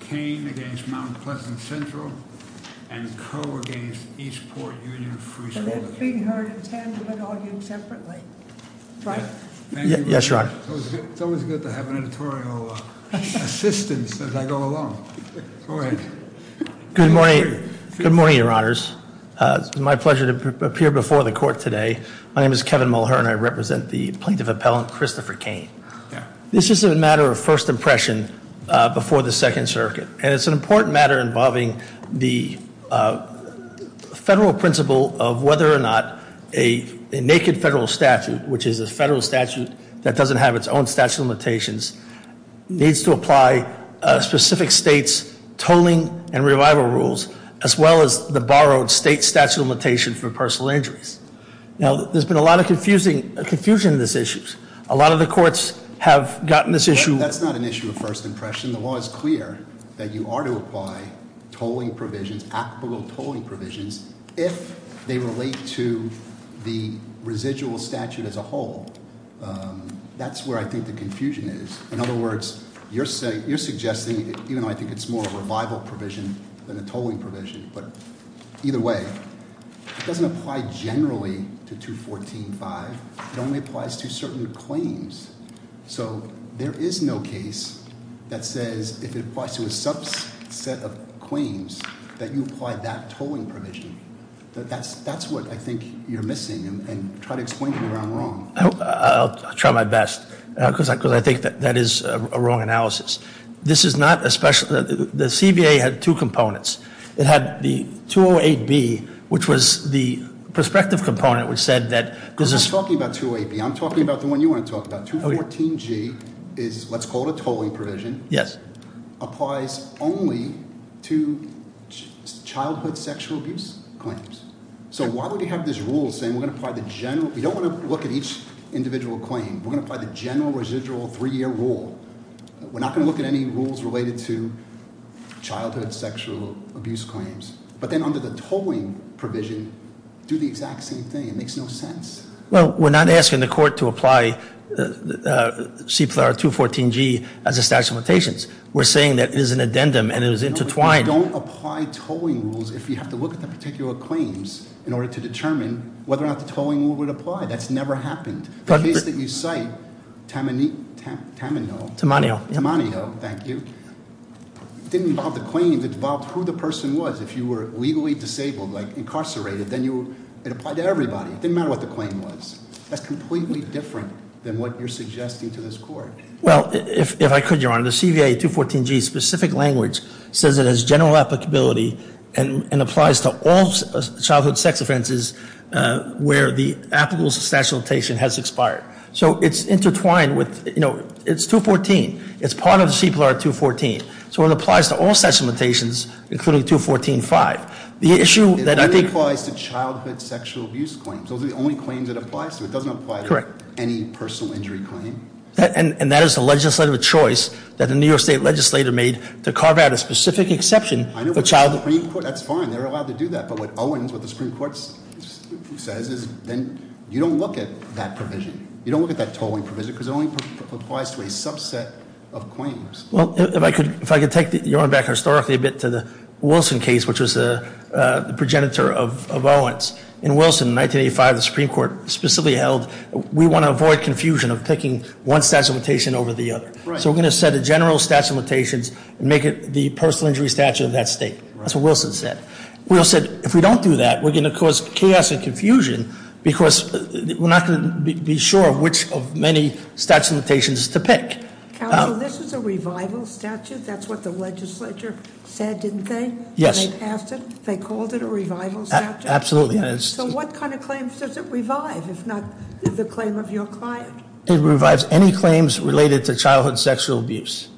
Cain against Mount Pleasant Central, and Coe against Eastport Union Free School. And that's being heard in tandem and argued separately, right? Yes, Your Honor. It's always good to have an editorial assistant as I go along. Go ahead. Good morning, Your Honors. It's my pleasure to appear before the court today. My name is Kevin Mulhern. I represent the plaintiff appellant, Christopher Cain. This is a matter of first impression before the Second Circuit. And it's an important matter involving the federal principle of whether or not a naked federal statute, which is a federal statute that doesn't have its own statute of limitations, needs to apply specific state's tolling and revival rules, as well as the borrowed state statute of limitations for personal injuries. Now, there's been a lot of confusion in these issues. A lot of the courts have gotten this issue- That's not an issue of first impression. The law is clear that you are to apply tolling provisions, applicable tolling provisions, if they relate to the residual statute as a whole. That's where I think the confusion is. In other words, you're suggesting, even though I think it's more of a revival provision than a tolling provision. But either way, it doesn't apply generally to 214-5. It only applies to certain claims. So, there is no case that says, if it applies to a subset of claims, that you apply that tolling provision, that's what I think you're missing, and try to explain to me where I'm wrong. I'll try my best, because I think that is a wrong analysis. This is not a special, the CBA had two components. It had the 208B, which was the prospective component, which said that- I'm not talking about 208B, I'm talking about the one you want to talk about, 214G is, let's call it a tolling provision. Yes. Applies only to childhood sexual abuse claims. So why would you have this rule saying we're going to apply the general, we don't want to look at each individual claim, we're going to apply the general residual three year rule. We're not going to look at any rules related to childhood sexual abuse claims. But then under the tolling provision, do the exact same thing, it makes no sense. Well, we're not asking the court to apply CPR 214G as a statute of limitations. We're saying that it is an addendum, and it is intertwined. Don't apply tolling rules if you have to look at the particular claims in order to determine whether or not the tolling rule would apply. That's never happened. The case that you cite, Tamanio, thank you. Didn't involve the claims, it involved who the person was. If you were legally disabled, like incarcerated, then it applied to everybody, it didn't matter what the claim was. That's completely different than what you're suggesting to this court. Well, if I could, your honor, the CVA 214G specific language says it has general applicability and applies to all childhood sex offenses where the applicable statute of limitation has expired. So it's intertwined with, it's 214, it's part of the CPR 214. So it applies to all such limitations, including 214-5. The issue that I think- It only applies to childhood sexual abuse claims. Those are the only claims it applies to. It doesn't apply to any personal injury claim. And that is the legislative choice that the New York State Legislature made to carve out a specific exception for childhood- I know, but the Supreme Court, that's fine, they're allowed to do that. But what Owens, what the Supreme Court says is, then you don't look at that provision. You don't look at that tolling provision, because it only applies to a subset of claims. Well, if I could take your honor back historically a bit to the Wilson case, which was the progenitor of Owens. In Wilson, 1985, the Supreme Court specifically held, we want to avoid confusion of picking one statute of limitation over the other. So we're going to set a general statute of limitations and make it the personal injury statute of that state. That's what Wilson said. Wilson said, if we don't do that, we're going to cause chaos and confusion because we're not going to be sure which of many statute of limitations to pick. Council, this is a revival statute. That's what the legislature said, didn't they? When they passed it, they called it a revival statute? Absolutely. So what kind of claims does it revive, if not the claim of your client? It revives any claims related to childhood sexual abuse.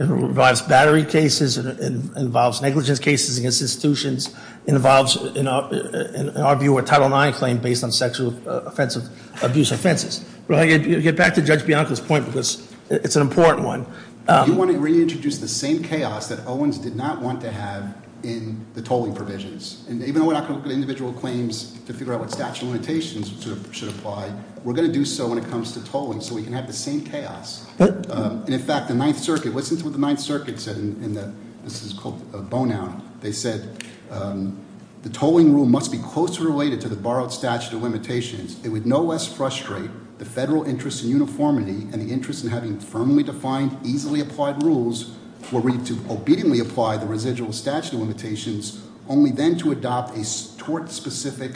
It revives battery cases, it involves negligence cases against institutions. It involves, in our view, a Title IX claim based on sexual abuse offenses. But I get back to Judge Bianco's point because it's an important one. We want to reintroduce the same chaos that Owens did not want to have in the tolling provisions. And even though we're not going to look at individual claims to figure out what statute of limitations should apply, we're going to do so when it comes to tolling so we can have the same chaos. And in fact, the Ninth Circuit, listen to what the Ninth Circuit said in the, this is called a bone out. They said, the tolling rule must be closely related to the borrowed statute of limitations. It would no less frustrate the federal interest in uniformity and the interest in having firmly defined, easily applied rules were read to obediently apply the residual statute of limitations, only then to adopt a tort specific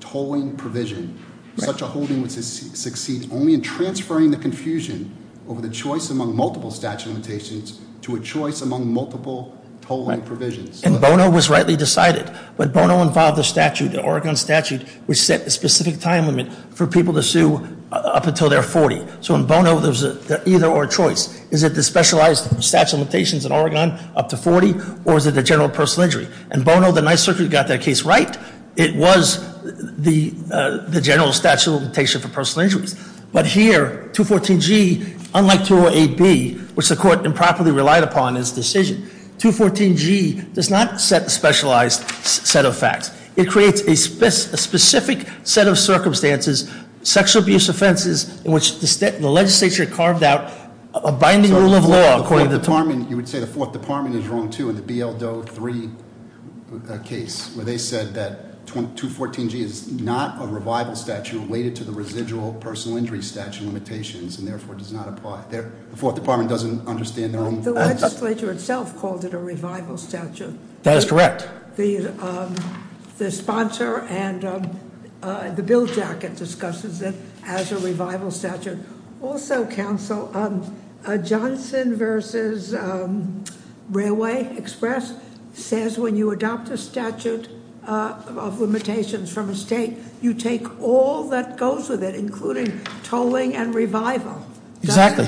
tolling provision. Such a holding would succeed only in transferring the confusion over the choice among multiple statute of limitations to a choice among multiple tolling provisions. And Bono was rightly decided, but Bono involved the statute, the Oregon statute, which set a specific time limit for people to sue up until they're 40. So in Bono, there's either or choice. Is it the specialized statute of limitations in Oregon up to 40, or is it the general personal injury? In Bono, the Ninth Circuit got their case right. It was the general statute of limitation for personal injuries. But here, 214G, unlike 208B, which the court improperly relied upon in its decision, 214G does not set a specialized set of facts. It creates a specific set of circumstances, sexual abuse offenses, in which the legislature carved out a binding rule of law according to the- You would say the fourth department is wrong, too, in the BL Doe 3 case, where they said that 214G is not a revival statute related to the residual personal injury statute limitations, and therefore does not apply. The fourth department doesn't understand their own- The legislature itself called it a revival statute. That is correct. The sponsor and the bill jacket discusses it as a revival statute. Also, counsel, Johnson versus Railway Express says when you adopt a statute of limitations from a state, you take all that goes with it, including tolling and revival. Exactly,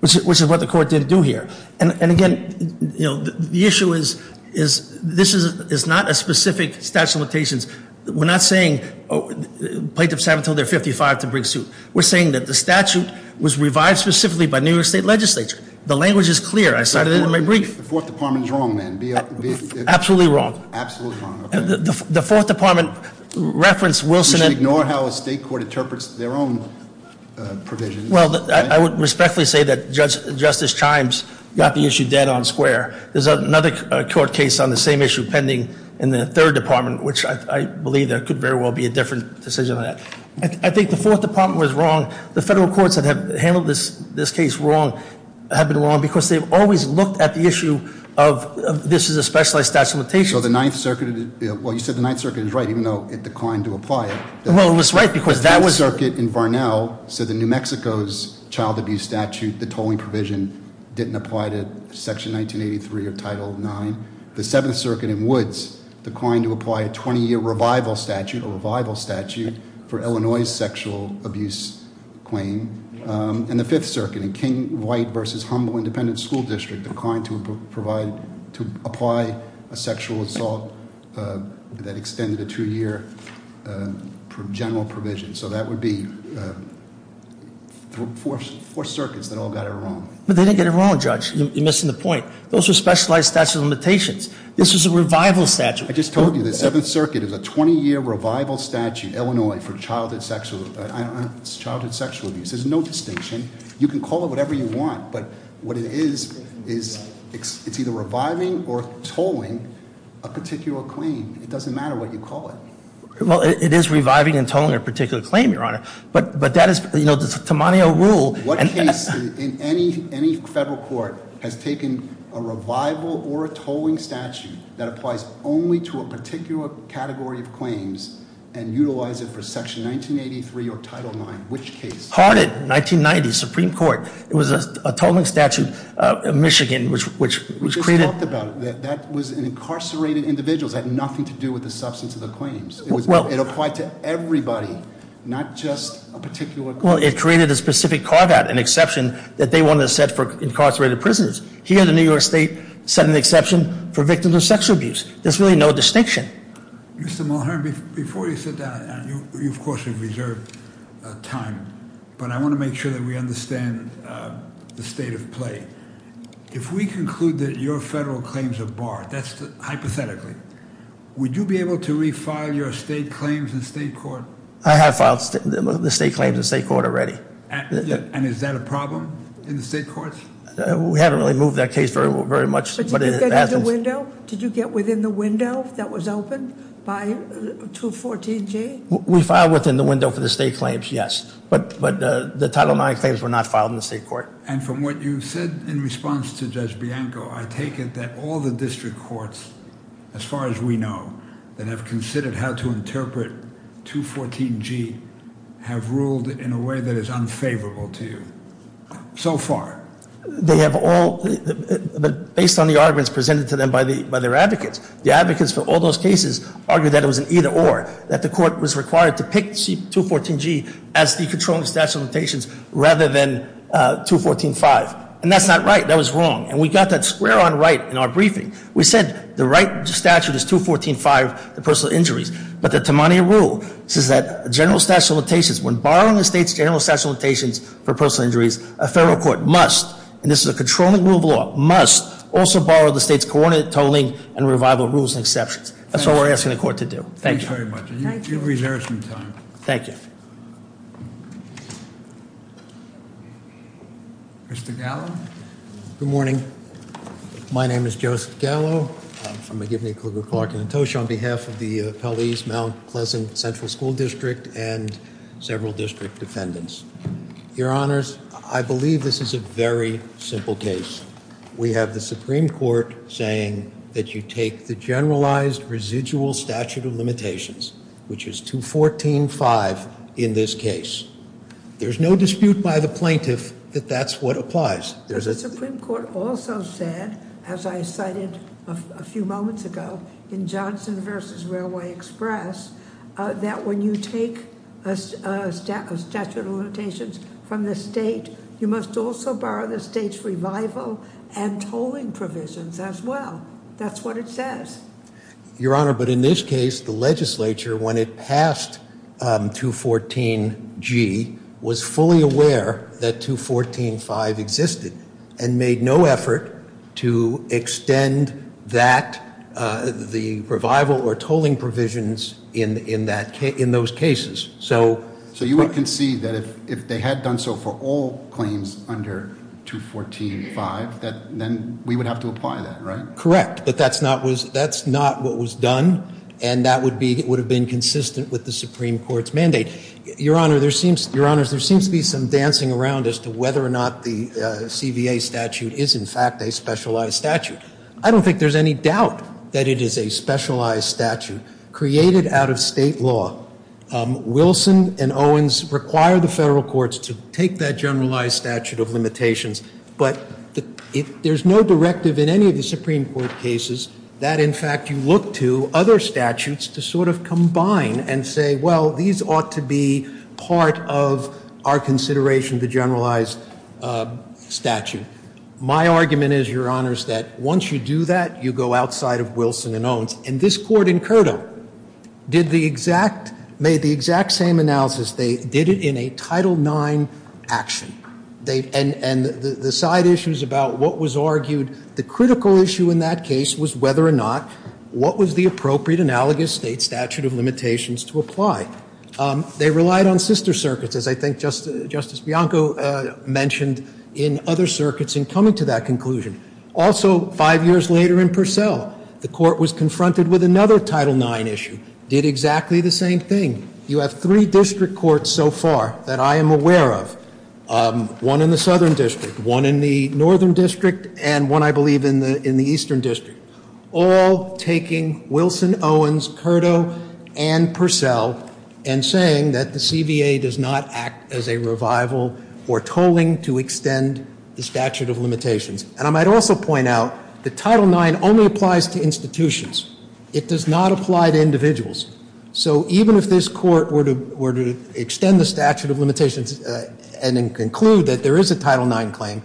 which is what the court didn't do here. And again, the issue is this is not a specific statute of limitations. We're not saying plaintiffs have until they're 55 to bring suit. We're saying that the statute was revived specifically by New York State legislature. The language is clear. I cited it in my brief. The fourth department's wrong, then. Absolutely wrong. Absolutely wrong, okay. The fourth department referenced Wilson and- You should ignore how a state court interprets their own provisions. I would respectfully say that Justice Chimes got the issue dead on square. There's another court case on the same issue pending in the third department, which I believe there could very well be a different decision on that. I think the fourth department was wrong. The federal courts that have handled this case wrong, have been wrong, because they've always looked at the issue of this is a specialized statute of limitations. So the Ninth Circuit, well you said the Ninth Circuit is right, even though it declined to apply it. Well, it was right, because that was- So the New Mexico's child abuse statute, the tolling provision, didn't apply to Section 1983 of Title IX. The Seventh Circuit in Woods declined to apply a 20 year revival statute, a revival statute, for Illinois' sexual abuse claim, and the Fifth Circuit in King, White versus Humble Independent School District declined to apply a sexual assault that extended a two year general provision. So that would be four circuits that all got it wrong. But they didn't get it wrong, Judge. You're missing the point. Those are specialized statute of limitations. This is a revival statute. I just told you, the Seventh Circuit is a 20 year revival statute, Illinois, for childhood sexual abuse. There's no distinction. You can call it whatever you want, but what it is, is it's either reviving or tolling a particular claim. It doesn't matter what you call it. Well, it is reviving and tolling a particular claim, Your Honor. But that is, you know, the Tammanio rule. What case in any federal court has taken a revival or a tolling statute that applies only to a particular category of claims and utilize it for Section 1983 or Title IX? Which case? Hardin, 1990, Supreme Court. It was a tolling statute, Michigan, which created- We just talked about it. That was an incarcerated individual. It had nothing to do with the substance of the claims. It applied to everybody, not just a particular- Well, it created a specific carve out, an exception that they wanted to set for incarcerated prisoners. Here in the New York State, set an exception for victims of sexual abuse. There's really no distinction. Mr. Mulhern, before you sit down, you of course have reserved time. But I want to make sure that we understand the state of play. If we conclude that your federal claims are barred, that's hypothetically, would you be able to re-file your state claims in state court? I have filed the state claims in state court already. And is that a problem in the state courts? We haven't really moved that case very much, but it happens. Did you get within the window that was opened by 214G? We filed within the window for the state claims, yes. But the Title IX claims were not filed in the state court. And from what you said in response to Judge Bianco, I take it that all the district courts, as far as we know, that have considered how to interpret 214G have ruled in a way that is unfavorable to you, so far? They have all, based on the arguments presented to them by their advocates, the advocates for all those cases argue that it was an either or, that the court was required to pick 214G as the controlling statute of limitations rather than 214-5. And that's not right. That was wrong. And we got that square on right in our briefing. We said the right statute is 214-5, the personal injuries. But the Tamania rule says that general statute of limitations, when borrowing the state's general statute of limitations for personal injuries, a federal court must, and this is a controlling rule of law, must also borrow the state's coordinate, totaling, and revival rules and exceptions. That's what we're asking the court to do. Thank you. Thanks very much. You've reserved some time. Thank you. Mr. Gallo? Good morning. My name is Joseph Gallo, I'm from McGivney, Kluger, Clark, and Antosha on behalf of the Pelleas, Mount Pleasant Central School District and several district defendants. Your honors, I believe this is a very simple case. We have the Supreme Court saying that you take the generalized residual statute of limitations, which is 214-5 in this case. There's no dispute by the plaintiff that that's what applies. There's a- The Supreme Court also said, as I cited a few moments ago, in Johnson versus Railway Express, that when you take a statute of limitations from the state, you must also borrow the state's revival and tolling provisions as well. That's what it says. Your honor, but in this case, the legislature, when it passed 214-G, was fully aware that 214-5 existed and made no effort to extend that, the revival or tolling provisions in those cases, so- So you would concede that if they had done so for all claims under 214-5, then we would have to apply that, right? Correct, but that's not what was done, and that would have been consistent with the Supreme Court's mandate. Your honors, there seems to be some dancing around as to whether or not the CVA statute is, in fact, a specialized statute. I don't think there's any doubt that it is a specialized statute created out of state law. Wilson and Owens require the federal courts to take that generalized statute of limitations, but there's no directive in any of the Supreme Court cases that, in fact, you look to other statutes to sort of combine and say, well, these ought to be part of our consideration of the generalized statute. My argument is, your honors, that once you do that, you go outside of Wilson and Owens. And this court in Curdo made the exact same analysis. They did it in a Title IX action, and the side issues about what was argued, the critical issue in that case was whether or not what was the appropriate analogous state statute of limitations to apply. They relied on sister circuits, as I think Justice Bianco mentioned, in other circuits in coming to that conclusion. Also, five years later in Purcell, the court was confronted with another Title IX issue, did exactly the same thing. You have three district courts so far that I am aware of, one in the Southern District, one in the Northern District, and one, I believe, in the Eastern District. All taking Wilson, Owens, Curdo, and Purcell, and saying that the CBA does not act as a revival or tolling to extend the statute of limitations. And I might also point out that Title IX only applies to institutions. It does not apply to individuals. So even if this court were to extend the statute of limitations and conclude that there is a Title IX claim,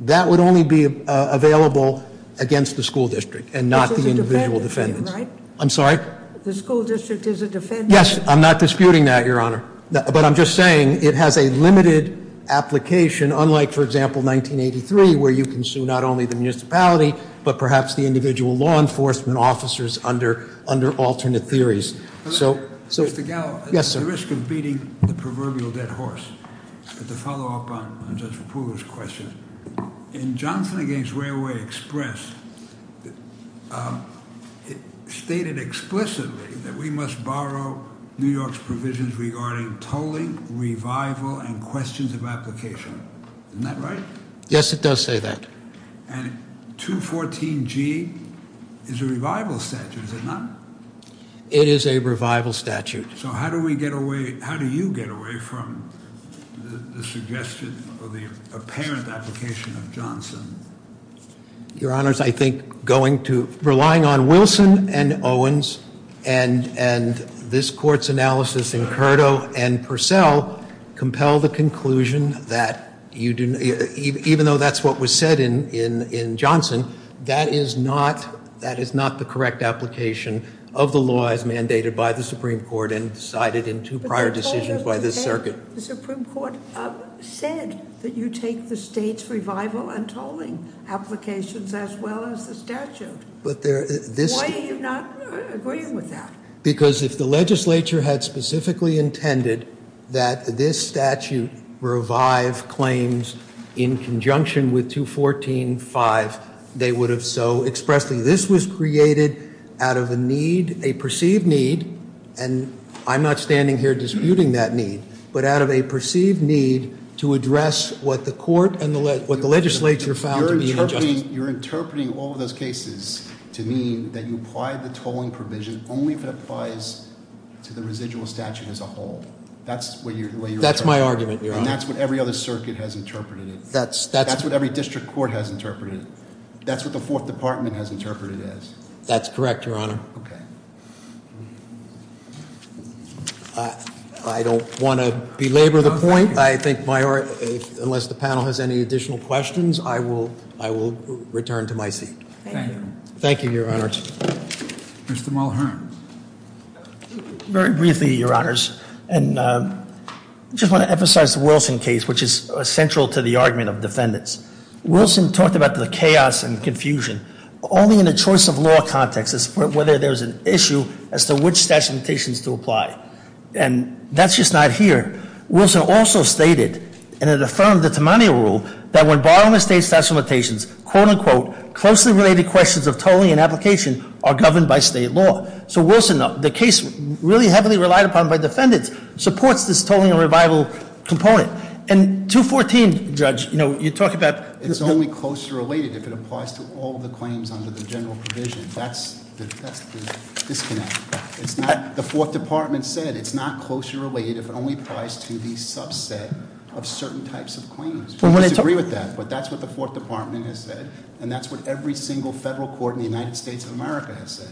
that would only be available against the school district and not the individual defendants. I'm sorry? The school district is a defendant. Yes, I'm not disputing that, Your Honor. But I'm just saying it has a limited application, unlike, for example, 1983, where you can sue not only the municipality, but perhaps the individual law enforcement officers under alternate theories. So- Mr. Gallo. Yes, sir. At the risk of beating the proverbial dead horse, to follow up on Judge Poole's question. In Johnson against Railway Express, it stated explicitly that we must borrow New York's provisions regarding tolling, revival, and questions of application. Isn't that right? Yes, it does say that. And 214G is a revival statute, is it not? It is a revival statute. So how do we get away, how do you get away from the suggestion of the apparent application of Johnson? Your Honors, I think going to, relying on Wilson and Owens and this court's analysis in Curdo and Purcell compel the conclusion that even though that's what was said in Johnson, that is not the correct application of the law as mandated by the Supreme Court and cited in two prior decisions by this circuit. The Supreme Court said that you take the state's revival and tolling applications as well as the statute. But there, this- Why are you not agreeing with that? Because if the legislature had specifically intended that this statute revive claims in conjunction with 214.5, they would have so expressedly. This was created out of a need, a perceived need, and I'm not standing here disputing that need. But out of a perceived need to address what the court and what the legislature found to be an injustice. I mean, you're interpreting all of those cases to mean that you apply the tolling provision only if it applies to the residual statute as a whole. That's what you're- That's my argument, Your Honor. And that's what every other circuit has interpreted it. That's- That's what every district court has interpreted it. That's what the fourth department has interpreted it as. That's correct, Your Honor. Okay. I don't want to belabor the point. I think my, unless the panel has any additional questions, I will return to my seat. Thank you. Thank you, Your Honors. Mr. Mulhern. Very briefly, Your Honors, and I just want to emphasize the Wilson case, which is central to the argument of defendants. Wilson talked about the chaos and confusion only in a choice of law context as to whether there's an issue as to which statute of limitations to apply. And that's just not here. Wilson also stated, and it affirmed the Tamanio rule, that when borrowing a state's statute of limitations, quote unquote, closely related questions of tolling and application are governed by state law. So Wilson, the case really heavily relied upon by defendants, supports this tolling and revival component. And 214, Judge, you're talking about- It's only closely related if it applies to all the claims under the general provision. That's the disconnect. It's not, the fourth department said, it's not closely related if it only applies to the subset of certain types of claims. We disagree with that, but that's what the fourth department has said. And that's what every single federal court in the United States of America has said.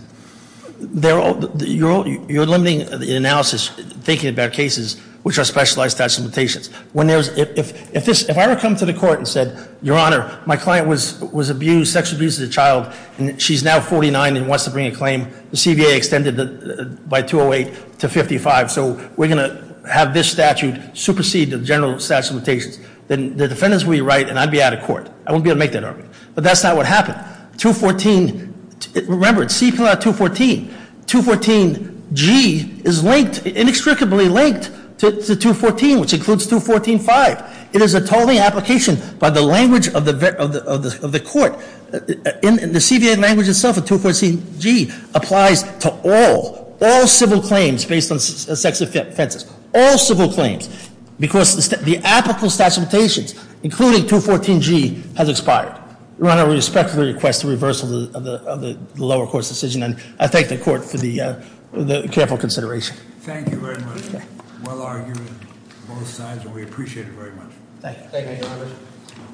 You're limiting the analysis, thinking about cases which are specialized statute of limitations. When there's, if I were to come to the court and said, your honor, my client was abused, sexually abused as a child, and she's now 49 and wants to bring a claim, the CBA extended it by 208 to 55. So we're going to have this statute supersede the general statute of limitations. Then the defendants will be right, and I'd be out of court. I won't be able to make that argument. But that's not what happened. 214, remember, it's CPLR 214. 214G is linked, inextricably linked to 214, which includes 214-5. It is a tolling application by the language of the court. In the CBA language itself, a 214G applies to all, all civil claims based on sex offenses, all civil claims. Because the applicable statute of limitations, including 214G, has expired. Your honor, we respectfully request the reversal of the lower court's decision, and I thank the court for the careful consideration. Thank you very much. Well argued on both sides, and we appreciate it very much. Thank you.